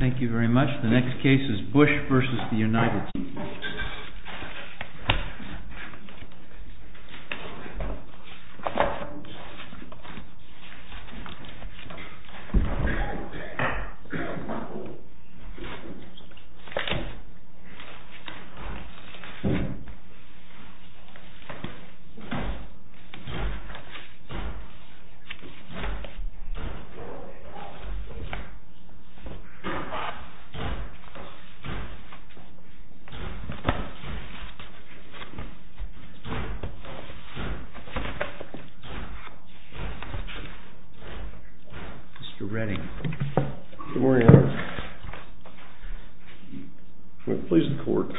Thank you very much. The next case is BUSH v. United States. Mr. Redding. Good morning, Your Honor. I'm going to please the court.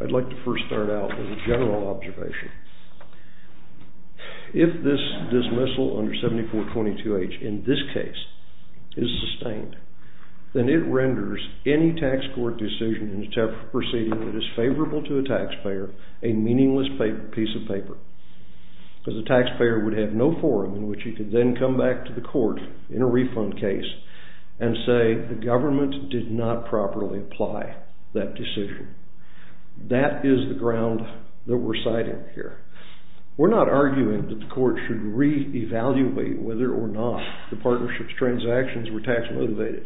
I'd like to first start out with a general observation. If this dismissal under 7422H in this case is sustained, then it renders any tax court decision in a temporary proceeding that is favorable to a taxpayer a meaningless piece of paper, because the taxpayer would have no forum in which he could then come back to the court in a refund case and say the government did not properly apply that decision. That is the ground that we're citing here. We're not arguing that the court should re-evaluate whether or not the partnership's transactions were tax-motivated.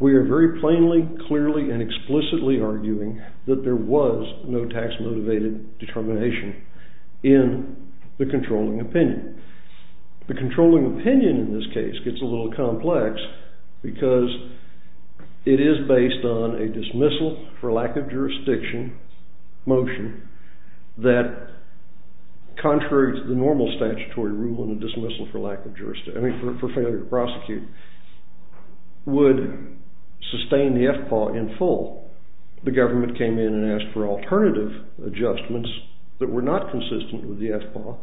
We are very plainly, clearly, and explicitly arguing that there was no tax-motivated determination in the controlling opinion. The controlling opinion in this case gets a little complex, because it is based on a dismissal for lack of jurisdiction motion that, contrary to the normal statutory rule in the dismissal for failure to prosecute, would sustain the FPAW in full. The government came in and asked for alternative adjustments that were not consistent with the FPAW.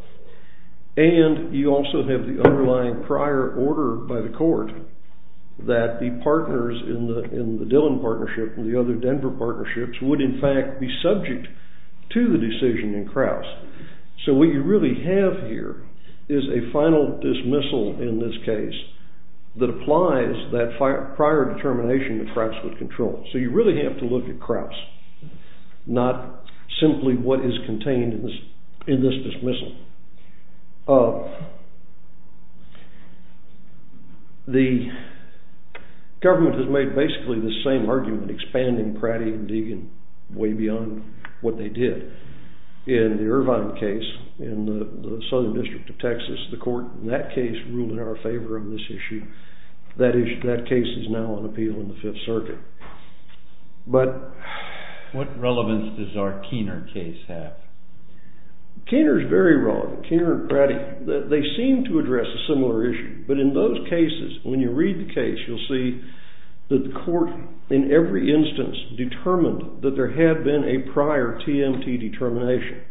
And you also have the underlying prior order by the court that the partners in the Dillon partnership and the other Denver partnerships would, in fact, be subject to the decision in Kraus. So what you really have here is a final dismissal in this case that applies that prior determination that Kraus would control. So you really have to look at Kraus, not simply what is contained in this dismissal. The government has made basically the same argument, expanding Pratty and Deegan way beyond what they did. In the Irvine case, in the Southern District of Texas, the court in that case ruled in our favor on this issue. That case is now on appeal in the Fifth Circuit. What relevance does our Kiener case have? Kiener is very relevant. Kiener and Pratty, they seem to address a similar issue. But in those cases, when you read the case, you'll see that the court, in every instance, determined that there had been a prior TMT determination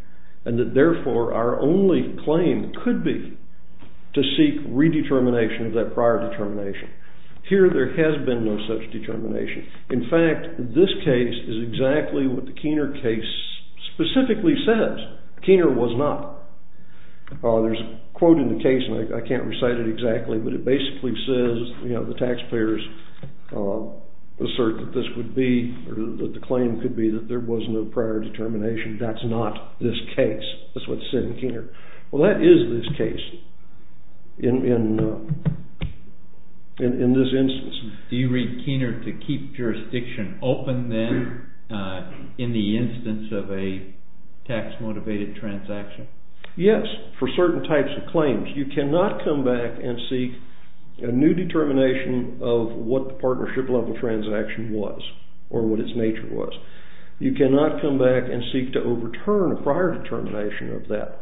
and that, therefore, our only claim could be to seek redetermination of that prior determination. Here, there has been no such determination. In fact, this case is exactly what the Kiener case specifically says. Kiener was not. There's a quote in the case, and I can't recite it exactly, but it basically says, you know, taxpayers assert that this would be, or that the claim could be that there was no prior determination. That's not this case. That's what's said in Kiener. Well, that is this case in this instance. Do you read Kiener to keep jurisdiction open, then, in the instance of a tax-motivated transaction? Yes, for certain types of claims. You cannot come back and seek a new determination of what the partnership-level transaction was, or what its nature was. You cannot come back and seek to overturn a prior determination of that.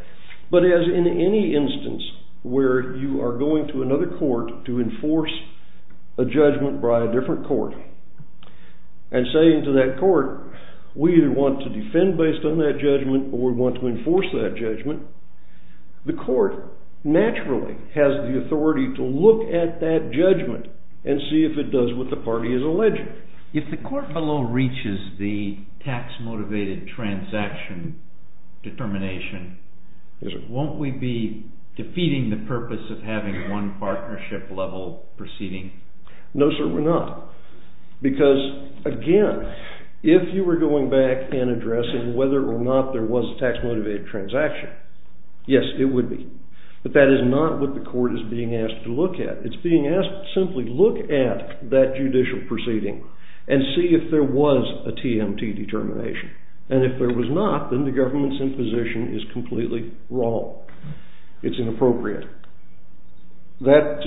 But as in any instance where you are going to another court to enforce a judgment by a different court, and saying to that court, we either want to defend based on that judgment, or we want to enforce that judgment, the court naturally has the authority to look at that judgment and see if it does what the party is alleging. If the court below reaches the tax-motivated transaction determination, won't we be defeating the purpose of having one partnership-level proceeding? No, sir, we're not. Because, again, if you were going back and addressing whether or not there was a tax-motivated transaction, yes, it would be. But that is not what the court is being asked to look at. It's being asked to simply look at that judicial proceeding and see if there was a TMT determination. And if there was not, then the government's imposition is completely wrong. It's inappropriate. Well,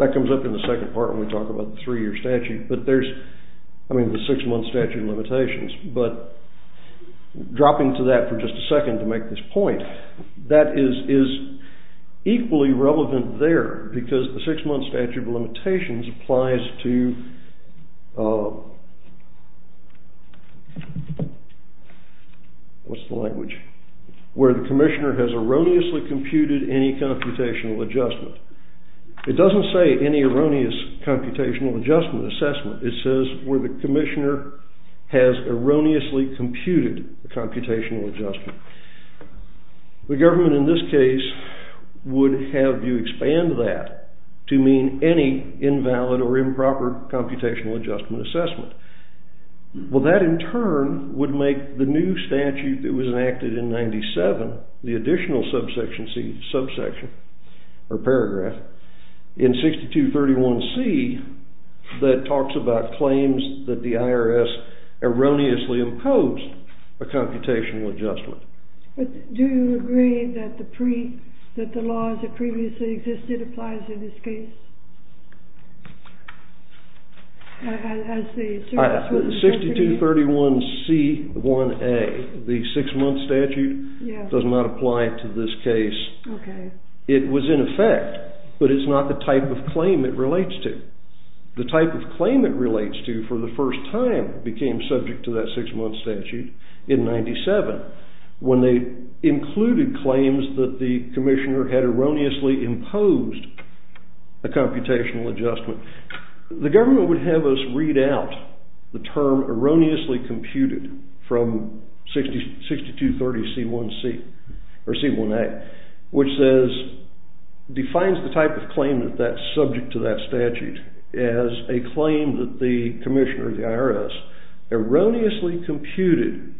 that comes up in the second part when we talk about the three-year statute. I mean, the six-month statute of limitations. But dropping to that for just a second to make this point, that is equally relevant there, because the six-month statute of limitations applies to, what's the language, where the commissioner has erroneously computed any computational adjustment. It doesn't say any erroneous computational adjustment assessment. It says where the commissioner has erroneously computed a computational adjustment. The government in this case would have you expand that to mean any invalid or improper computational adjustment assessment. Well, that in turn would make the new statute that was enacted in 97, the additional subsection, or paragraph, in 6231C that talks about claims that the IRS erroneously imposed a computational adjustment. But do you agree that the laws that previously existed applies in this case? 6231C1A, the six-month statute, does not apply to this case. It was in effect, but it's not the type of claim it relates to. The type of claim it relates to for the first time became subject to that six-month statute in 97, when they included claims that the commissioner had erroneously imposed a computational adjustment. The government would have us read out the term erroneously computed from 6231C1A, which defines the type of claim that's subject to that statute as a claim that the commissioner of the IRS erroneously computed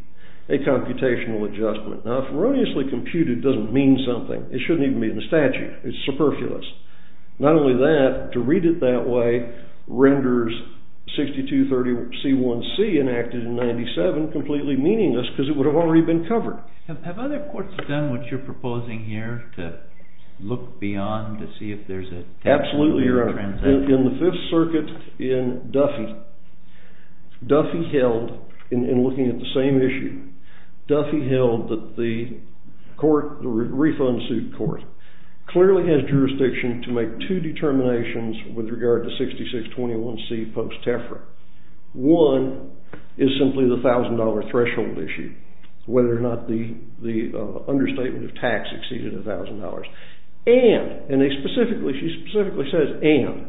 a computational adjustment. Now, erroneously computed doesn't mean something. It shouldn't even be in the statute. It's superfluous. Not only that, to read it that way renders 6231C1C, enacted in 97, completely meaningless, because it would have already been covered. Have other courts done what you're proposing here, to look beyond to see if there's a technical transition? Absolutely, Your Honor. In the Fifth Circuit, in Duffy, Duffy held, in looking at the same issue, Duffy held that the court, the refund suit court, clearly has jurisdiction to make two determinations with regard to 6621C post-TEFRA. One is simply the $1,000 threshold issue, whether or not the understatement of tax exceeded $1,000. And, and they specifically, she specifically says and,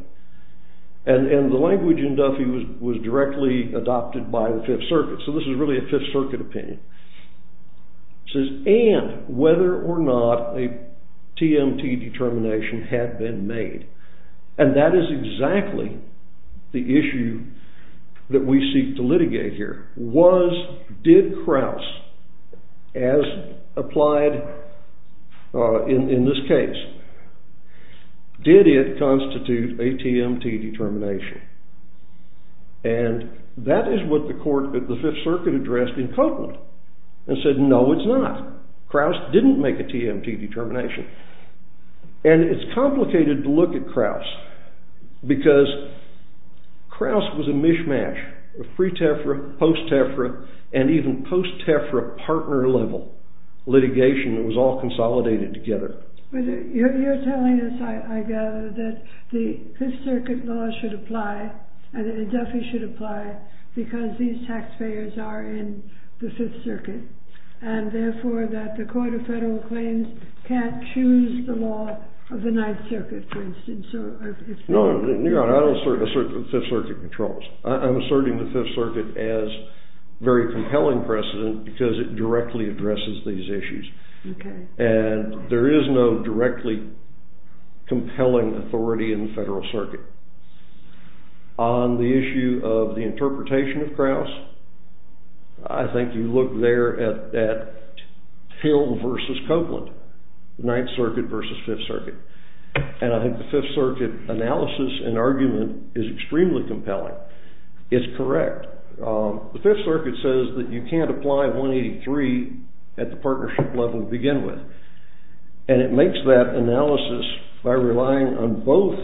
and the language in Duffy was directly adopted by the Fifth Circuit. So this is really a Fifth Circuit opinion. It says and whether or not a TMT determination had been made. And that is exactly the issue that we seek to litigate here. Was, did Krauss, as applied in this case, did it constitute a TMT determination? And that is what the court, the Fifth Circuit addressed in Copeland and said, no, it's not. Krauss didn't make a TMT determination. And it's complicated to look at Krauss because Krauss was a mishmash of pre-TEFRA, post-TEFRA, and even post-TEFRA partner level litigation that was all consolidated together. You're telling us, I gather, that the Fifth Circuit law should apply and that in Duffy should apply because these taxpayers are in the Fifth Circuit, and therefore that the Court of Federal Claims can't choose the law of the Ninth Circuit, for instance, or if they want to. No, New York, I don't assert the Fifth Circuit controls. I'm asserting the Fifth Circuit as very compelling precedent because it directly addresses these issues. Okay. And there is no directly compelling authority in the Federal Circuit. On the issue of whether the interpretation of Krauss, I think you look there at Hill versus Copeland, the Ninth Circuit versus Fifth Circuit. And I think the Fifth Circuit analysis and argument is extremely compelling. It's correct. The Fifth Circuit says that you can't apply 183 at the partnership level to begin with. And it makes that analysis by relying on both,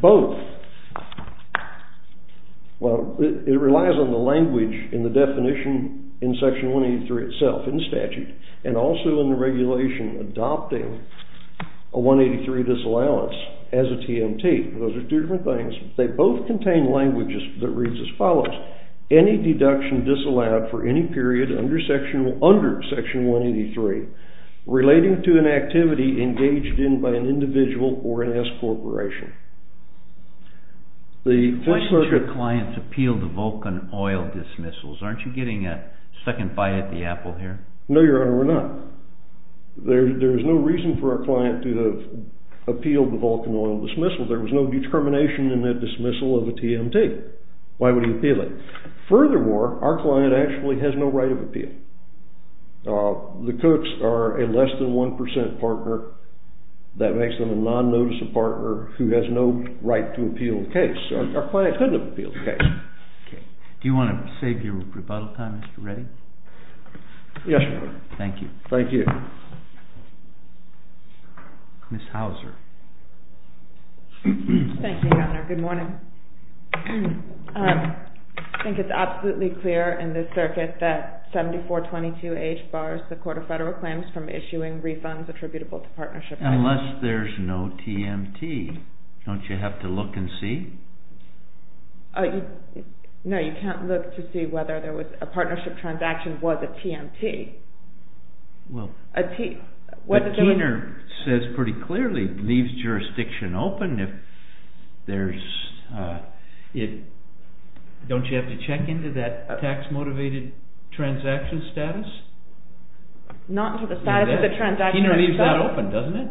both, both of them. Well, it relies on the language in the definition in Section 183 itself in statute and also in the regulation adopting a 183 disallowance as a TMT. Those are two different things. They both contain language that reads as follows. Any deduction disallowed for any period under Section 183 relating to an activity engaged in by an individual or an S corporation. The Fifth Circuit... Why should your clients appeal the Vulcan oil dismissals? Aren't you getting a second bite at the apple here? No, Your Honor, we're not. There is no reason for our client to have appealed the Vulcan oil dismissal. There was no determination in that dismissal of a TMT. Why would he appeal it? Furthermore, our client actually has no right of appeal. The Cooks are a less than 1% partner. That makes them a non-noticeable partner who has no right to appeal the case. Do you want to save your rebuttal time, Mr. Reddy? Yes, Your Honor. Thank you. Thank you. Ms. Hauser. Thank you, Your Honor. Good morning. I think it's absolutely clear in this circuit that there is no TMT. Don't you have to look and see? No, you can't look to see whether there was a partnership transaction was a TMT. Well... A teener says pretty clearly, leaves jurisdiction open if there's... Don't you have to check into that tax-motivated transaction status? Not into the status of the transaction itself. Keener leaves that open, doesn't it?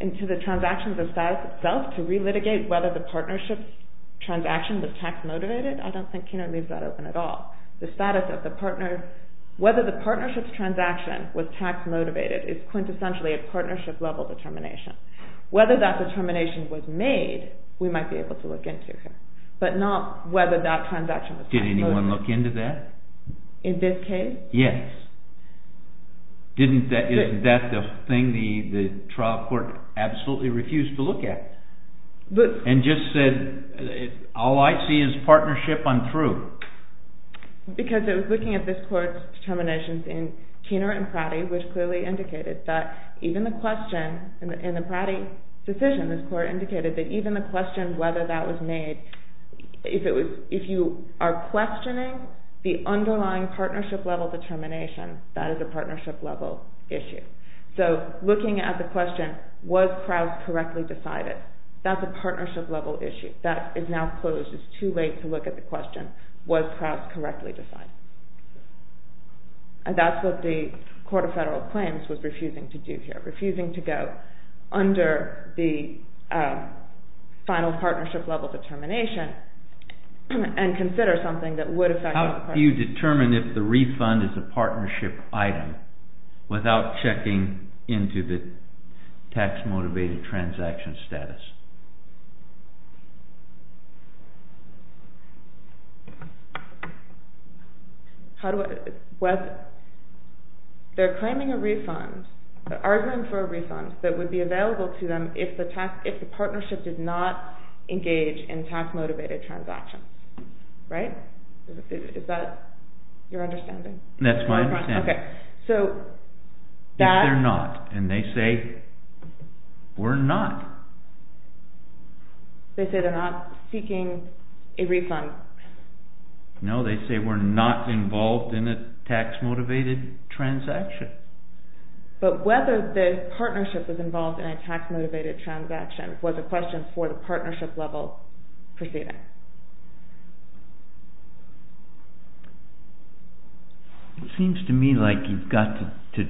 Into the transaction status itself to re-litigate whether the partnership transaction was tax-motivated? I don't think Keener leaves that open at all. The status of the partner, whether the partnership's transaction was tax-motivated is quintessentially a partnership-level determination. Whether that determination was made, we might be able to look into here, but not whether that transaction was tax-motivated. Did anyone look into that? In this case? Yes. Isn't that the thing the trial court absolutely refused to look at? But... And just said, all I see is partnership, I'm through. Because it was looking at this court's determinations in Keener and Pratty, which clearly indicated that even the question in the Pratty decision, this court indicated that even the question whether that was made, if you are questioning the underlying partnership-level determination, that is a partnership-level issue. So, looking at the question, was Krauss correctly decided? That's a partnership-level issue. That is now closed. It's too late to look at the question, was Krauss correctly decided? And that's what the Court of Federal Claims was refusing to do here, refusing to go under the final partnership-level determination and consider something that would affect... How do you determine if the refund is a partnership item without checking into the tax-motivated transaction status? They're claiming a refund, arguing for a refund that would be available to them if the partnership did not engage in tax-motivated transactions. Right? Is that your understanding? That's my understanding. If they're not, and they say, we're not. They say they're not seeking a refund. No, they say we're not involved in a tax-motivated transaction. But whether the partnership was involved in a tax-motivated transaction was a question for the partnership-level proceeding. Okay. It seems to me like you've got to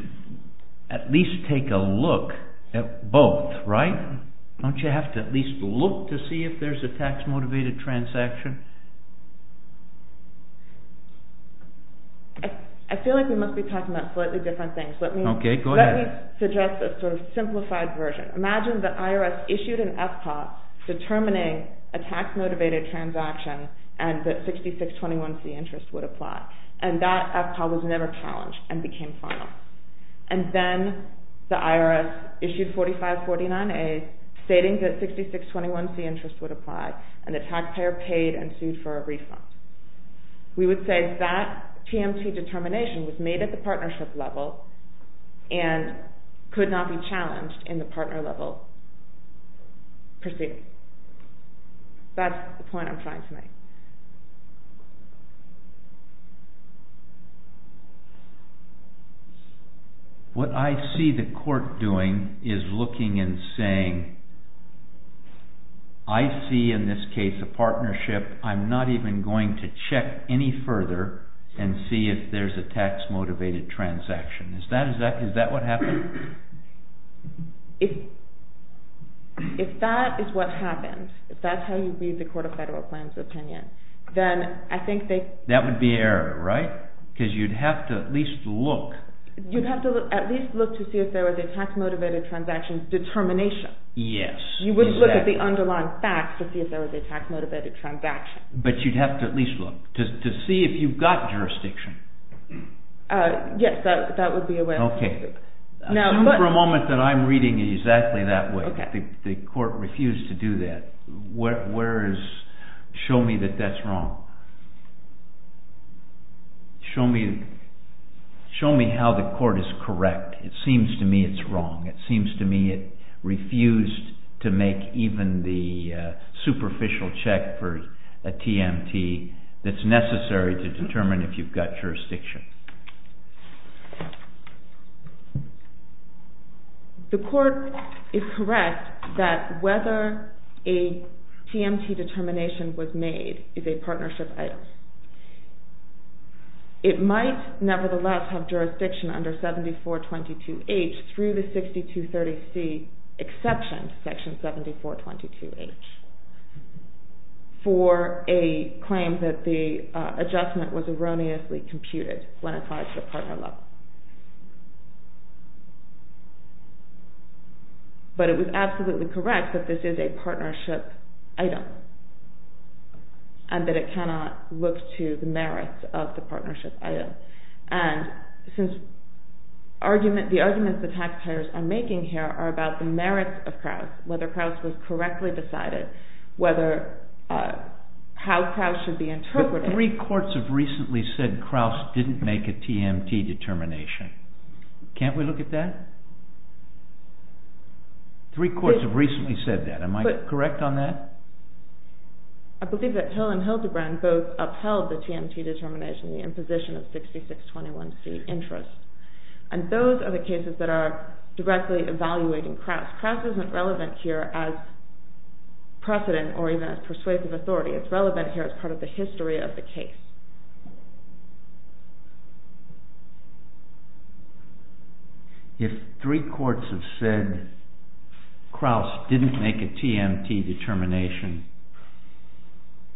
at least take a look at both, right? Don't you have to at least look to see if there's a tax-motivated transaction? I feel like we must be talking about slightly different things. Okay, go ahead. Let me suggest a sort of simplified version. Imagine that IRS issued an FPAW determining a tax-motivated transaction and that 6621C interest would apply. And that FPAW was never challenged and became final. And then the IRS issued 4549A stating that 6621C interest would apply, and the taxpayer paid and sued for a refund. We would say that TMT determination was made at the partnership level and could not be proceeded. That's the point I'm trying to make. What I see the court doing is looking and saying, I see in this case a partnership. I'm not even going to check any further and see if there's a tax-motivated transaction. Is that what happened? If that is what happened, if that's how you read the Court of Federal Plans opinion, then I think they... That would be error, right? Because you'd have to at least look. You'd have to at least look to see if there was a tax-motivated transaction determination. Yes. You would look at the underlying facts to see if there was a tax-motivated transaction. But you'd have to at least look to see if you've got jurisdiction. Yes, that would be a way. Assume for a moment that I'm reading it exactly that way. The court refused to do that. Show me that that's wrong. Show me how the court is correct. It seems to me it's wrong. It seems to me it refused to make even the superficial check for a TMT that's necessary to determine if you've got jurisdiction. The court is correct that whether a TMT determination was made is a partnership item. It might nevertheless have jurisdiction under 7422H through the 6230C exception, section 7422H, for a claim that the adjustment was erroneously computed when applied to the partner level. But it was absolutely correct that this is a partnership item and that it cannot look to the merits of the partnership item. And since the arguments the tax payers are making here are about the merits of Krauss, whether Krauss was correctly decided, how Krauss should be interpreted. But three courts have recently said Krauss didn't make a TMT determination. Can't we look at that? Three courts have recently said that. Am I correct on that? I believe that Hill and Hildebrand both upheld the TMT determination, the imposition of 6621C interest. And those are the cases that are directly evaluating Krauss. Krauss isn't relevant here as precedent or even as persuasive authority. It's relevant here as part of the history of the case. If three courts have said Krauss didn't make a TMT determination,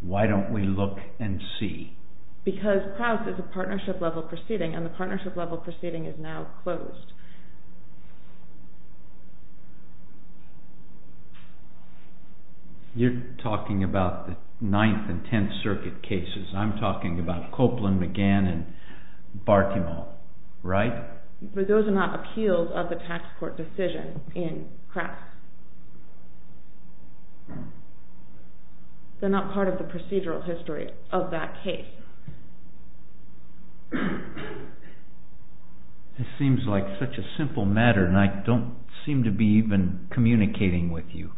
why don't we look and see? Because Krauss is a partnership level proceeding and the partnership level proceeding is now closed. You're talking about the Ninth and Tenth Circuit cases. I'm talking about Copeland, McGann, and Bartimo, right? But those are not appeals of the tax court decision in Krauss. They're not part of the procedural history of that case. It seems like such a simple matter and I don't seem to be even communicating with you.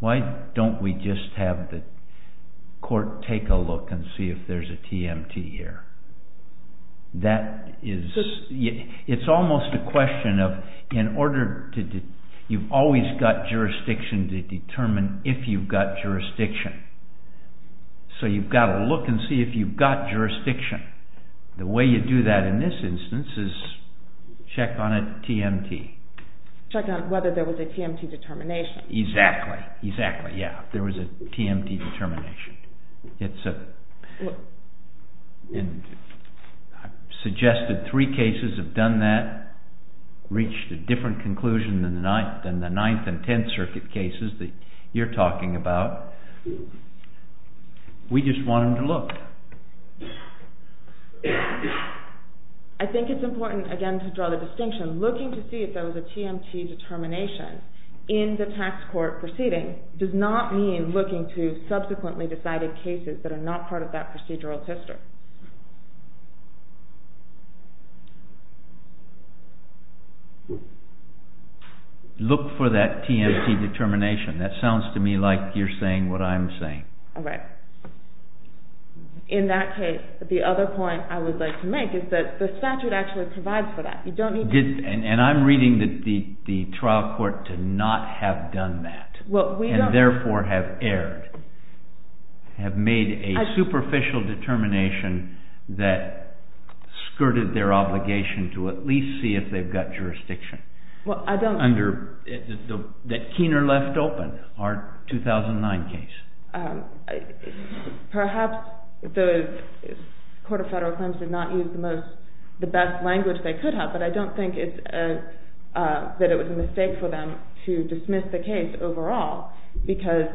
Why don't we just have the court take a look and see if there's a TMT here? It's almost a question of, you've always got jurisdiction to determine if you've got jurisdiction. So you've got to look and see if you've got jurisdiction. The way you do that in this instance is check on a TMT. Check on whether there was a TMT determination. Exactly. There was a TMT determination. I've suggested three cases have done that, reached a different conclusion than the Ninth and Tenth Circuit cases that you're talking about. We just want them to look. I think it's important, again, to draw the distinction. Looking to see if there was a TMT determination in the tax court proceeding does not mean looking to subsequently decided cases that are not part of that procedural history. Look for that TMT determination. That sounds to me like you're saying what I'm saying. Right. In that case, the other point I would like to make is that the statute actually provides for that. And I'm reading that the trial court did not have done that and therefore have erred, have made a superficial determination. That skirted their obligation to at least see if they've got jurisdiction. That Keener left open, our 2009 case. Perhaps the Court of Federal Claims did not use the best language they could have, but I don't think that it was a mistake for them to dismiss the case overall. Because,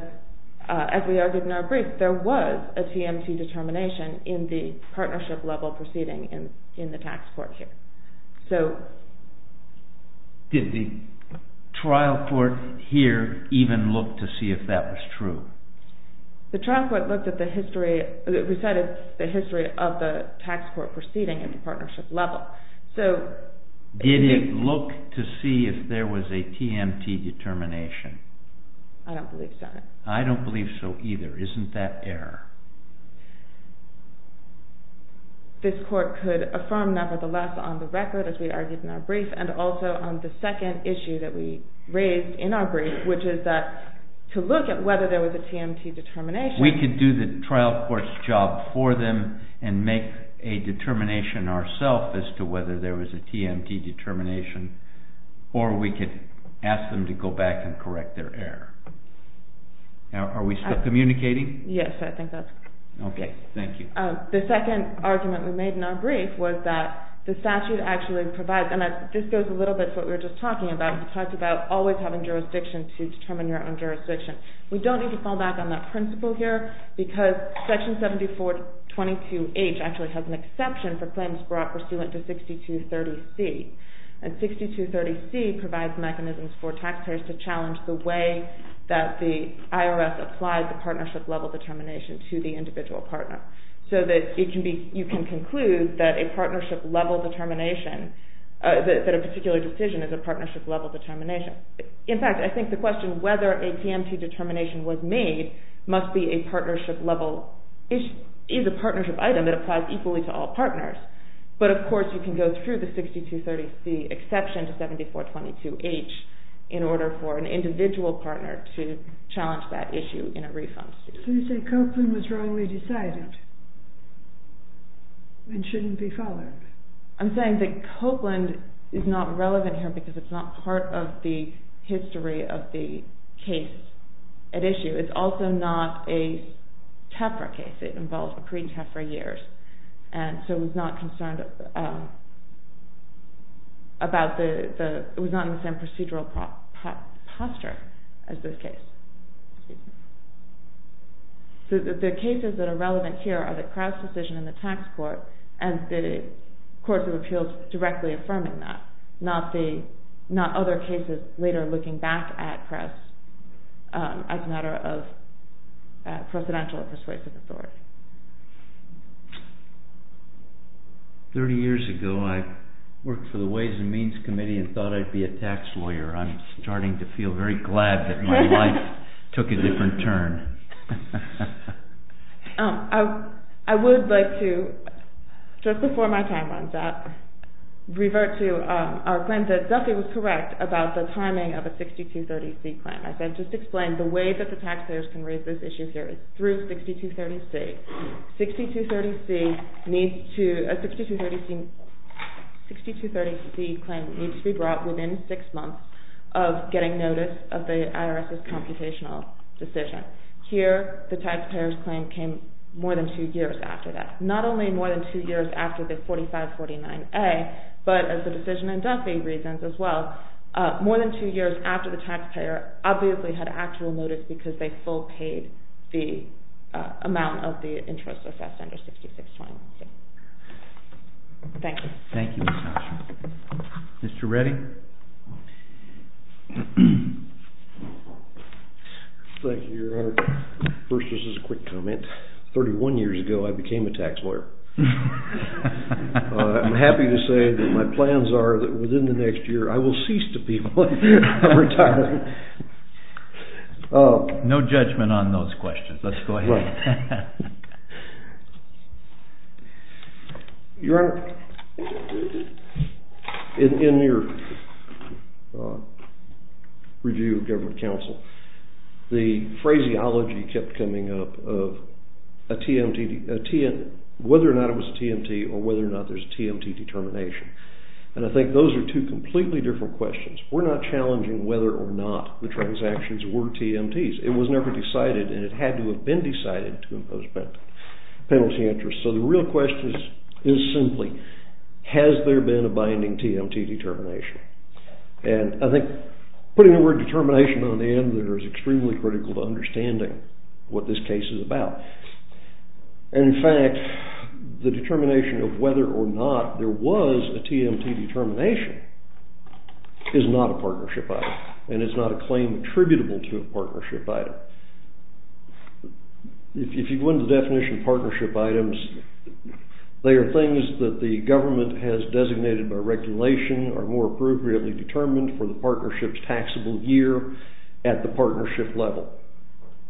as we argued in our brief, there was a TMT determination in the partnership level proceeding in the tax court here. Did the trial court here even look to see if that was true? The trial court looked at the history, we said it's the history of the tax court proceeding at the partnership level. Did it look to see if there was a TMT determination? I don't believe so. I don't believe so either. Isn't that error? This court could affirm, nevertheless, on the record, as we argued in our brief, and also on the second issue that we raised in our brief, which is to look at whether there was a TMT determination. We could do the trial court's job for them and make a determination ourselves as to whether there was a TMT determination, or we could ask them to go back and correct their error. Are we still communicating? Yes, I think that's correct. Okay, thank you. The second argument we made in our brief was that the statute actually provides, and this goes a little bit to what we were just talking about. We don't need to fall back on that principle here, because section 7422H actually has an exception for claims brought pursuant to 6230C. And 6230C provides mechanisms for tax payers to challenge the way that the IRS applies the partnership level determination to the individual partner. So that you can conclude that a partnership level determination, that a particular decision is a partnership level determination. In fact, I think the question whether a TMT determination was made must be a partnership level, is a partnership item that applies equally to all partners. But, of course, you can go through the 6230C exception to 7422H in order for an individual partner to challenge that issue in a refund suit. So you say Copeland was wrongly decided and shouldn't be followed. I'm saying that Copeland is not relevant here because it's not part of the history of the case at issue. It's also not a TEFRA case. It involved pre-TEFRA years. And so it was not concerned about the, it was not in the same procedural posture as this case. The cases that are relevant here are the Crouse decision in the tax court and the courts of appeals directly affirming that. Not other cases later looking back at Crouse as a matter of precedential persuasive authority. Thirty years ago I worked for the Ways and Means Committee and thought I'd be a tax lawyer. I'm starting to feel very glad that my life took a different turn. I would like to, just before my time runs out, revert to our claim that Duffy was correct about the timing of a 6230C claim. It needs to be brought within six months of getting notice of the IRS's computational decision. Here the taxpayer's claim came more than two years after that. Not only more than two years after the 4549A, but as the decision in Duffy reasons as well, more than two years after the taxpayer obviously had actual notice because they full paid the amount of the interest assessed under 6620C. Thank you. Mr. Reddy? Thank you, Your Honor. First, this is a quick comment. Thirty-one years ago I became a tax lawyer. I'm happy to say that my plans are that within the next year I will cease to be one. No judgment on those questions. Let's go ahead. Your Honor, in your review of government counsel, the phraseology kept coming up of whether or not it was a TMT or whether or not there's a TMT determination. And I think those are two completely different questions. We're not challenging whether or not the transactions were TMTs. It was never decided and it had to have been decided to impose penalty interest. So the real question is simply, has there been a binding TMT determination? And I think putting the word determination on the end there is extremely critical to understanding what this case is about. In fact, the determination of whether or not there was a TMT determination is not a partnership item. And it's not a claim attributable to a partnership item. If you go into the definition of partnership items, they are things that the government has designated by regulation or more appropriately determined for the partnership's taxable year at the partnership level.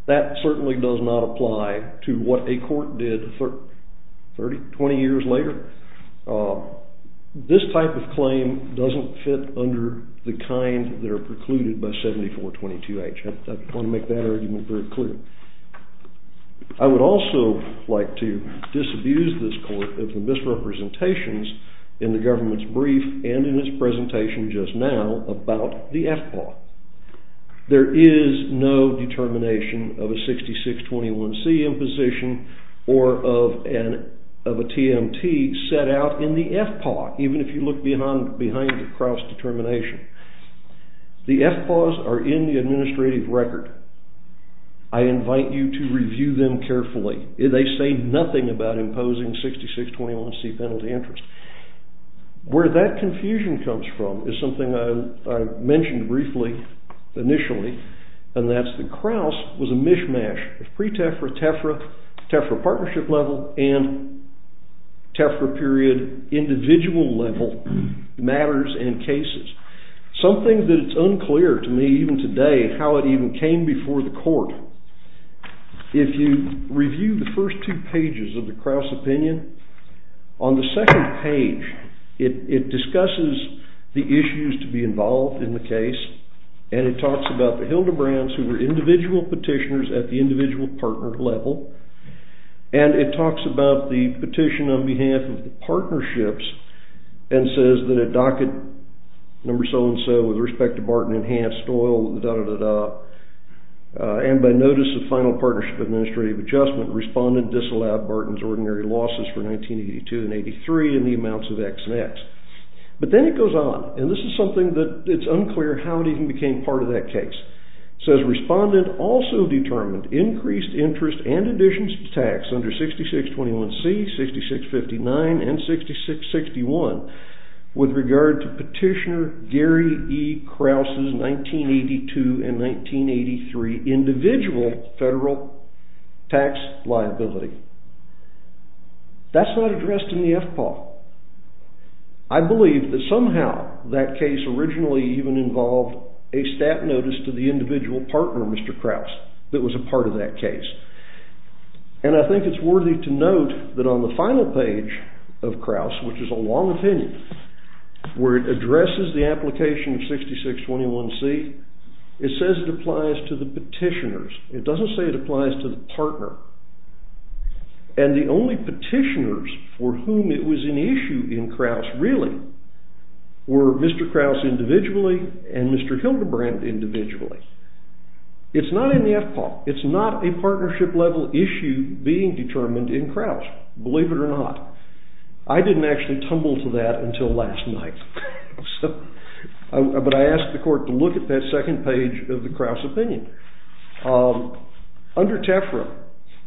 That certainly does not apply to what a court did 30, 20 years later. This type of claim doesn't fit under the kind that are precluded by 7422H. I want to make that argument very clear. I would also like to disabuse this court of the misrepresentations in the government's brief and in its presentation just now about the FPAW. There is no determination of a 6621C imposition or of a TMT set out in the FPAW, even if you look behind the cross determination. The FPAWs are in the administrative record. I invite you to review them carefully. They say nothing about imposing 6621C penalty interest. Where that confusion comes from is something I mentioned briefly initially. And that's that Krauss was a mishmash of pre-TEFRA, TEFRA, TEFRA partnership level, and TEFRA period individual level matters and cases. Something that is unclear to me even today how it even came before the court. If you review the first two pages of the Krauss opinion, on the second page it discusses the issues to be involved in the case. And it talks about the Hildebrands who were individual petitioners at the individual partner level. And it talks about the petition on behalf of the partnerships and says that a docket number so-and-so with respect to Barton Enhanced Oil, da-da-da-da, and by notice of final partnership administrative adjustment, respondent disallowed Barton's ordinary losses for 1982 and 83 in the amounts of X and X. But then it goes on, and this is something that is unclear how it even became part of that case. It says respondent also determined increased interest and additions to tax under 6621C, 6659, and 6661 with regard to petitioner Gary E. Krauss' 1982 and 1983 individual federal tax liability. That's not addressed in the FPAW. I believe that somehow that case originally even involved a stat notice to the individual partner, Mr. Krauss, that was a part of that case. And I think it's worthy to note that on the final page of Krauss, which is a long opinion, where it addresses the application of 6621C, it says it applies to the petitioners. It doesn't say it applies to the partner. And the only petitioners for whom it was an issue in Krauss, really, were Mr. Krauss individually and Mr. Hildebrand individually. It's not in the FPAW. It's not a partnership-level issue being determined in Krauss, believe it or not. I didn't actually tumble to that until last night, but I asked the court to look at that second page of the Krauss opinion. Under TEFRA,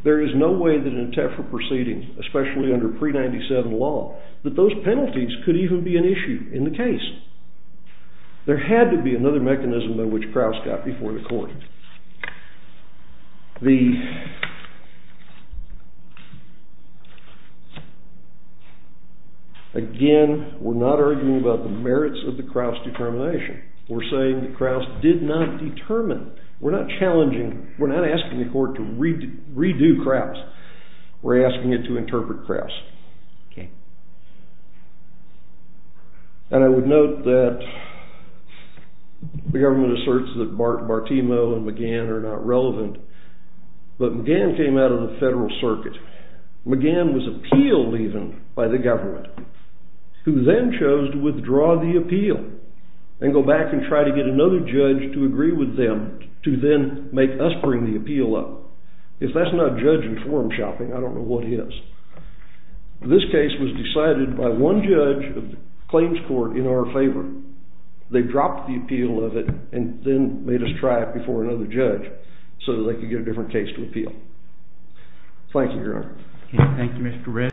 there is no way that in a TEFRA proceeding, especially under pre-'97 law, that those penalties could even be an issue in the case. There had to be another mechanism by which Krauss got before the court. Again, we're not arguing about the merits of the Krauss determination. We're saying that Krauss did not determine. We're not asking the court to redo Krauss. We're asking it to interpret Krauss. And I would note that the government asserts that Bartimo and McGann are not relevant, but McGann came out of the federal circuit. McGann was appealed, even, by the government, who then chose to withdraw the appeal and go back and try to get another judge to agree with them to then make us bring the appeal up. If that's not judge-informed shopping, I don't know what is. This case was decided by one judge of the claims court in our favor. They dropped the appeal of it and then made us try it before another judge so that they could get a different case to appeal. Thank you, Your Honor. Thank you, Mr. Redd.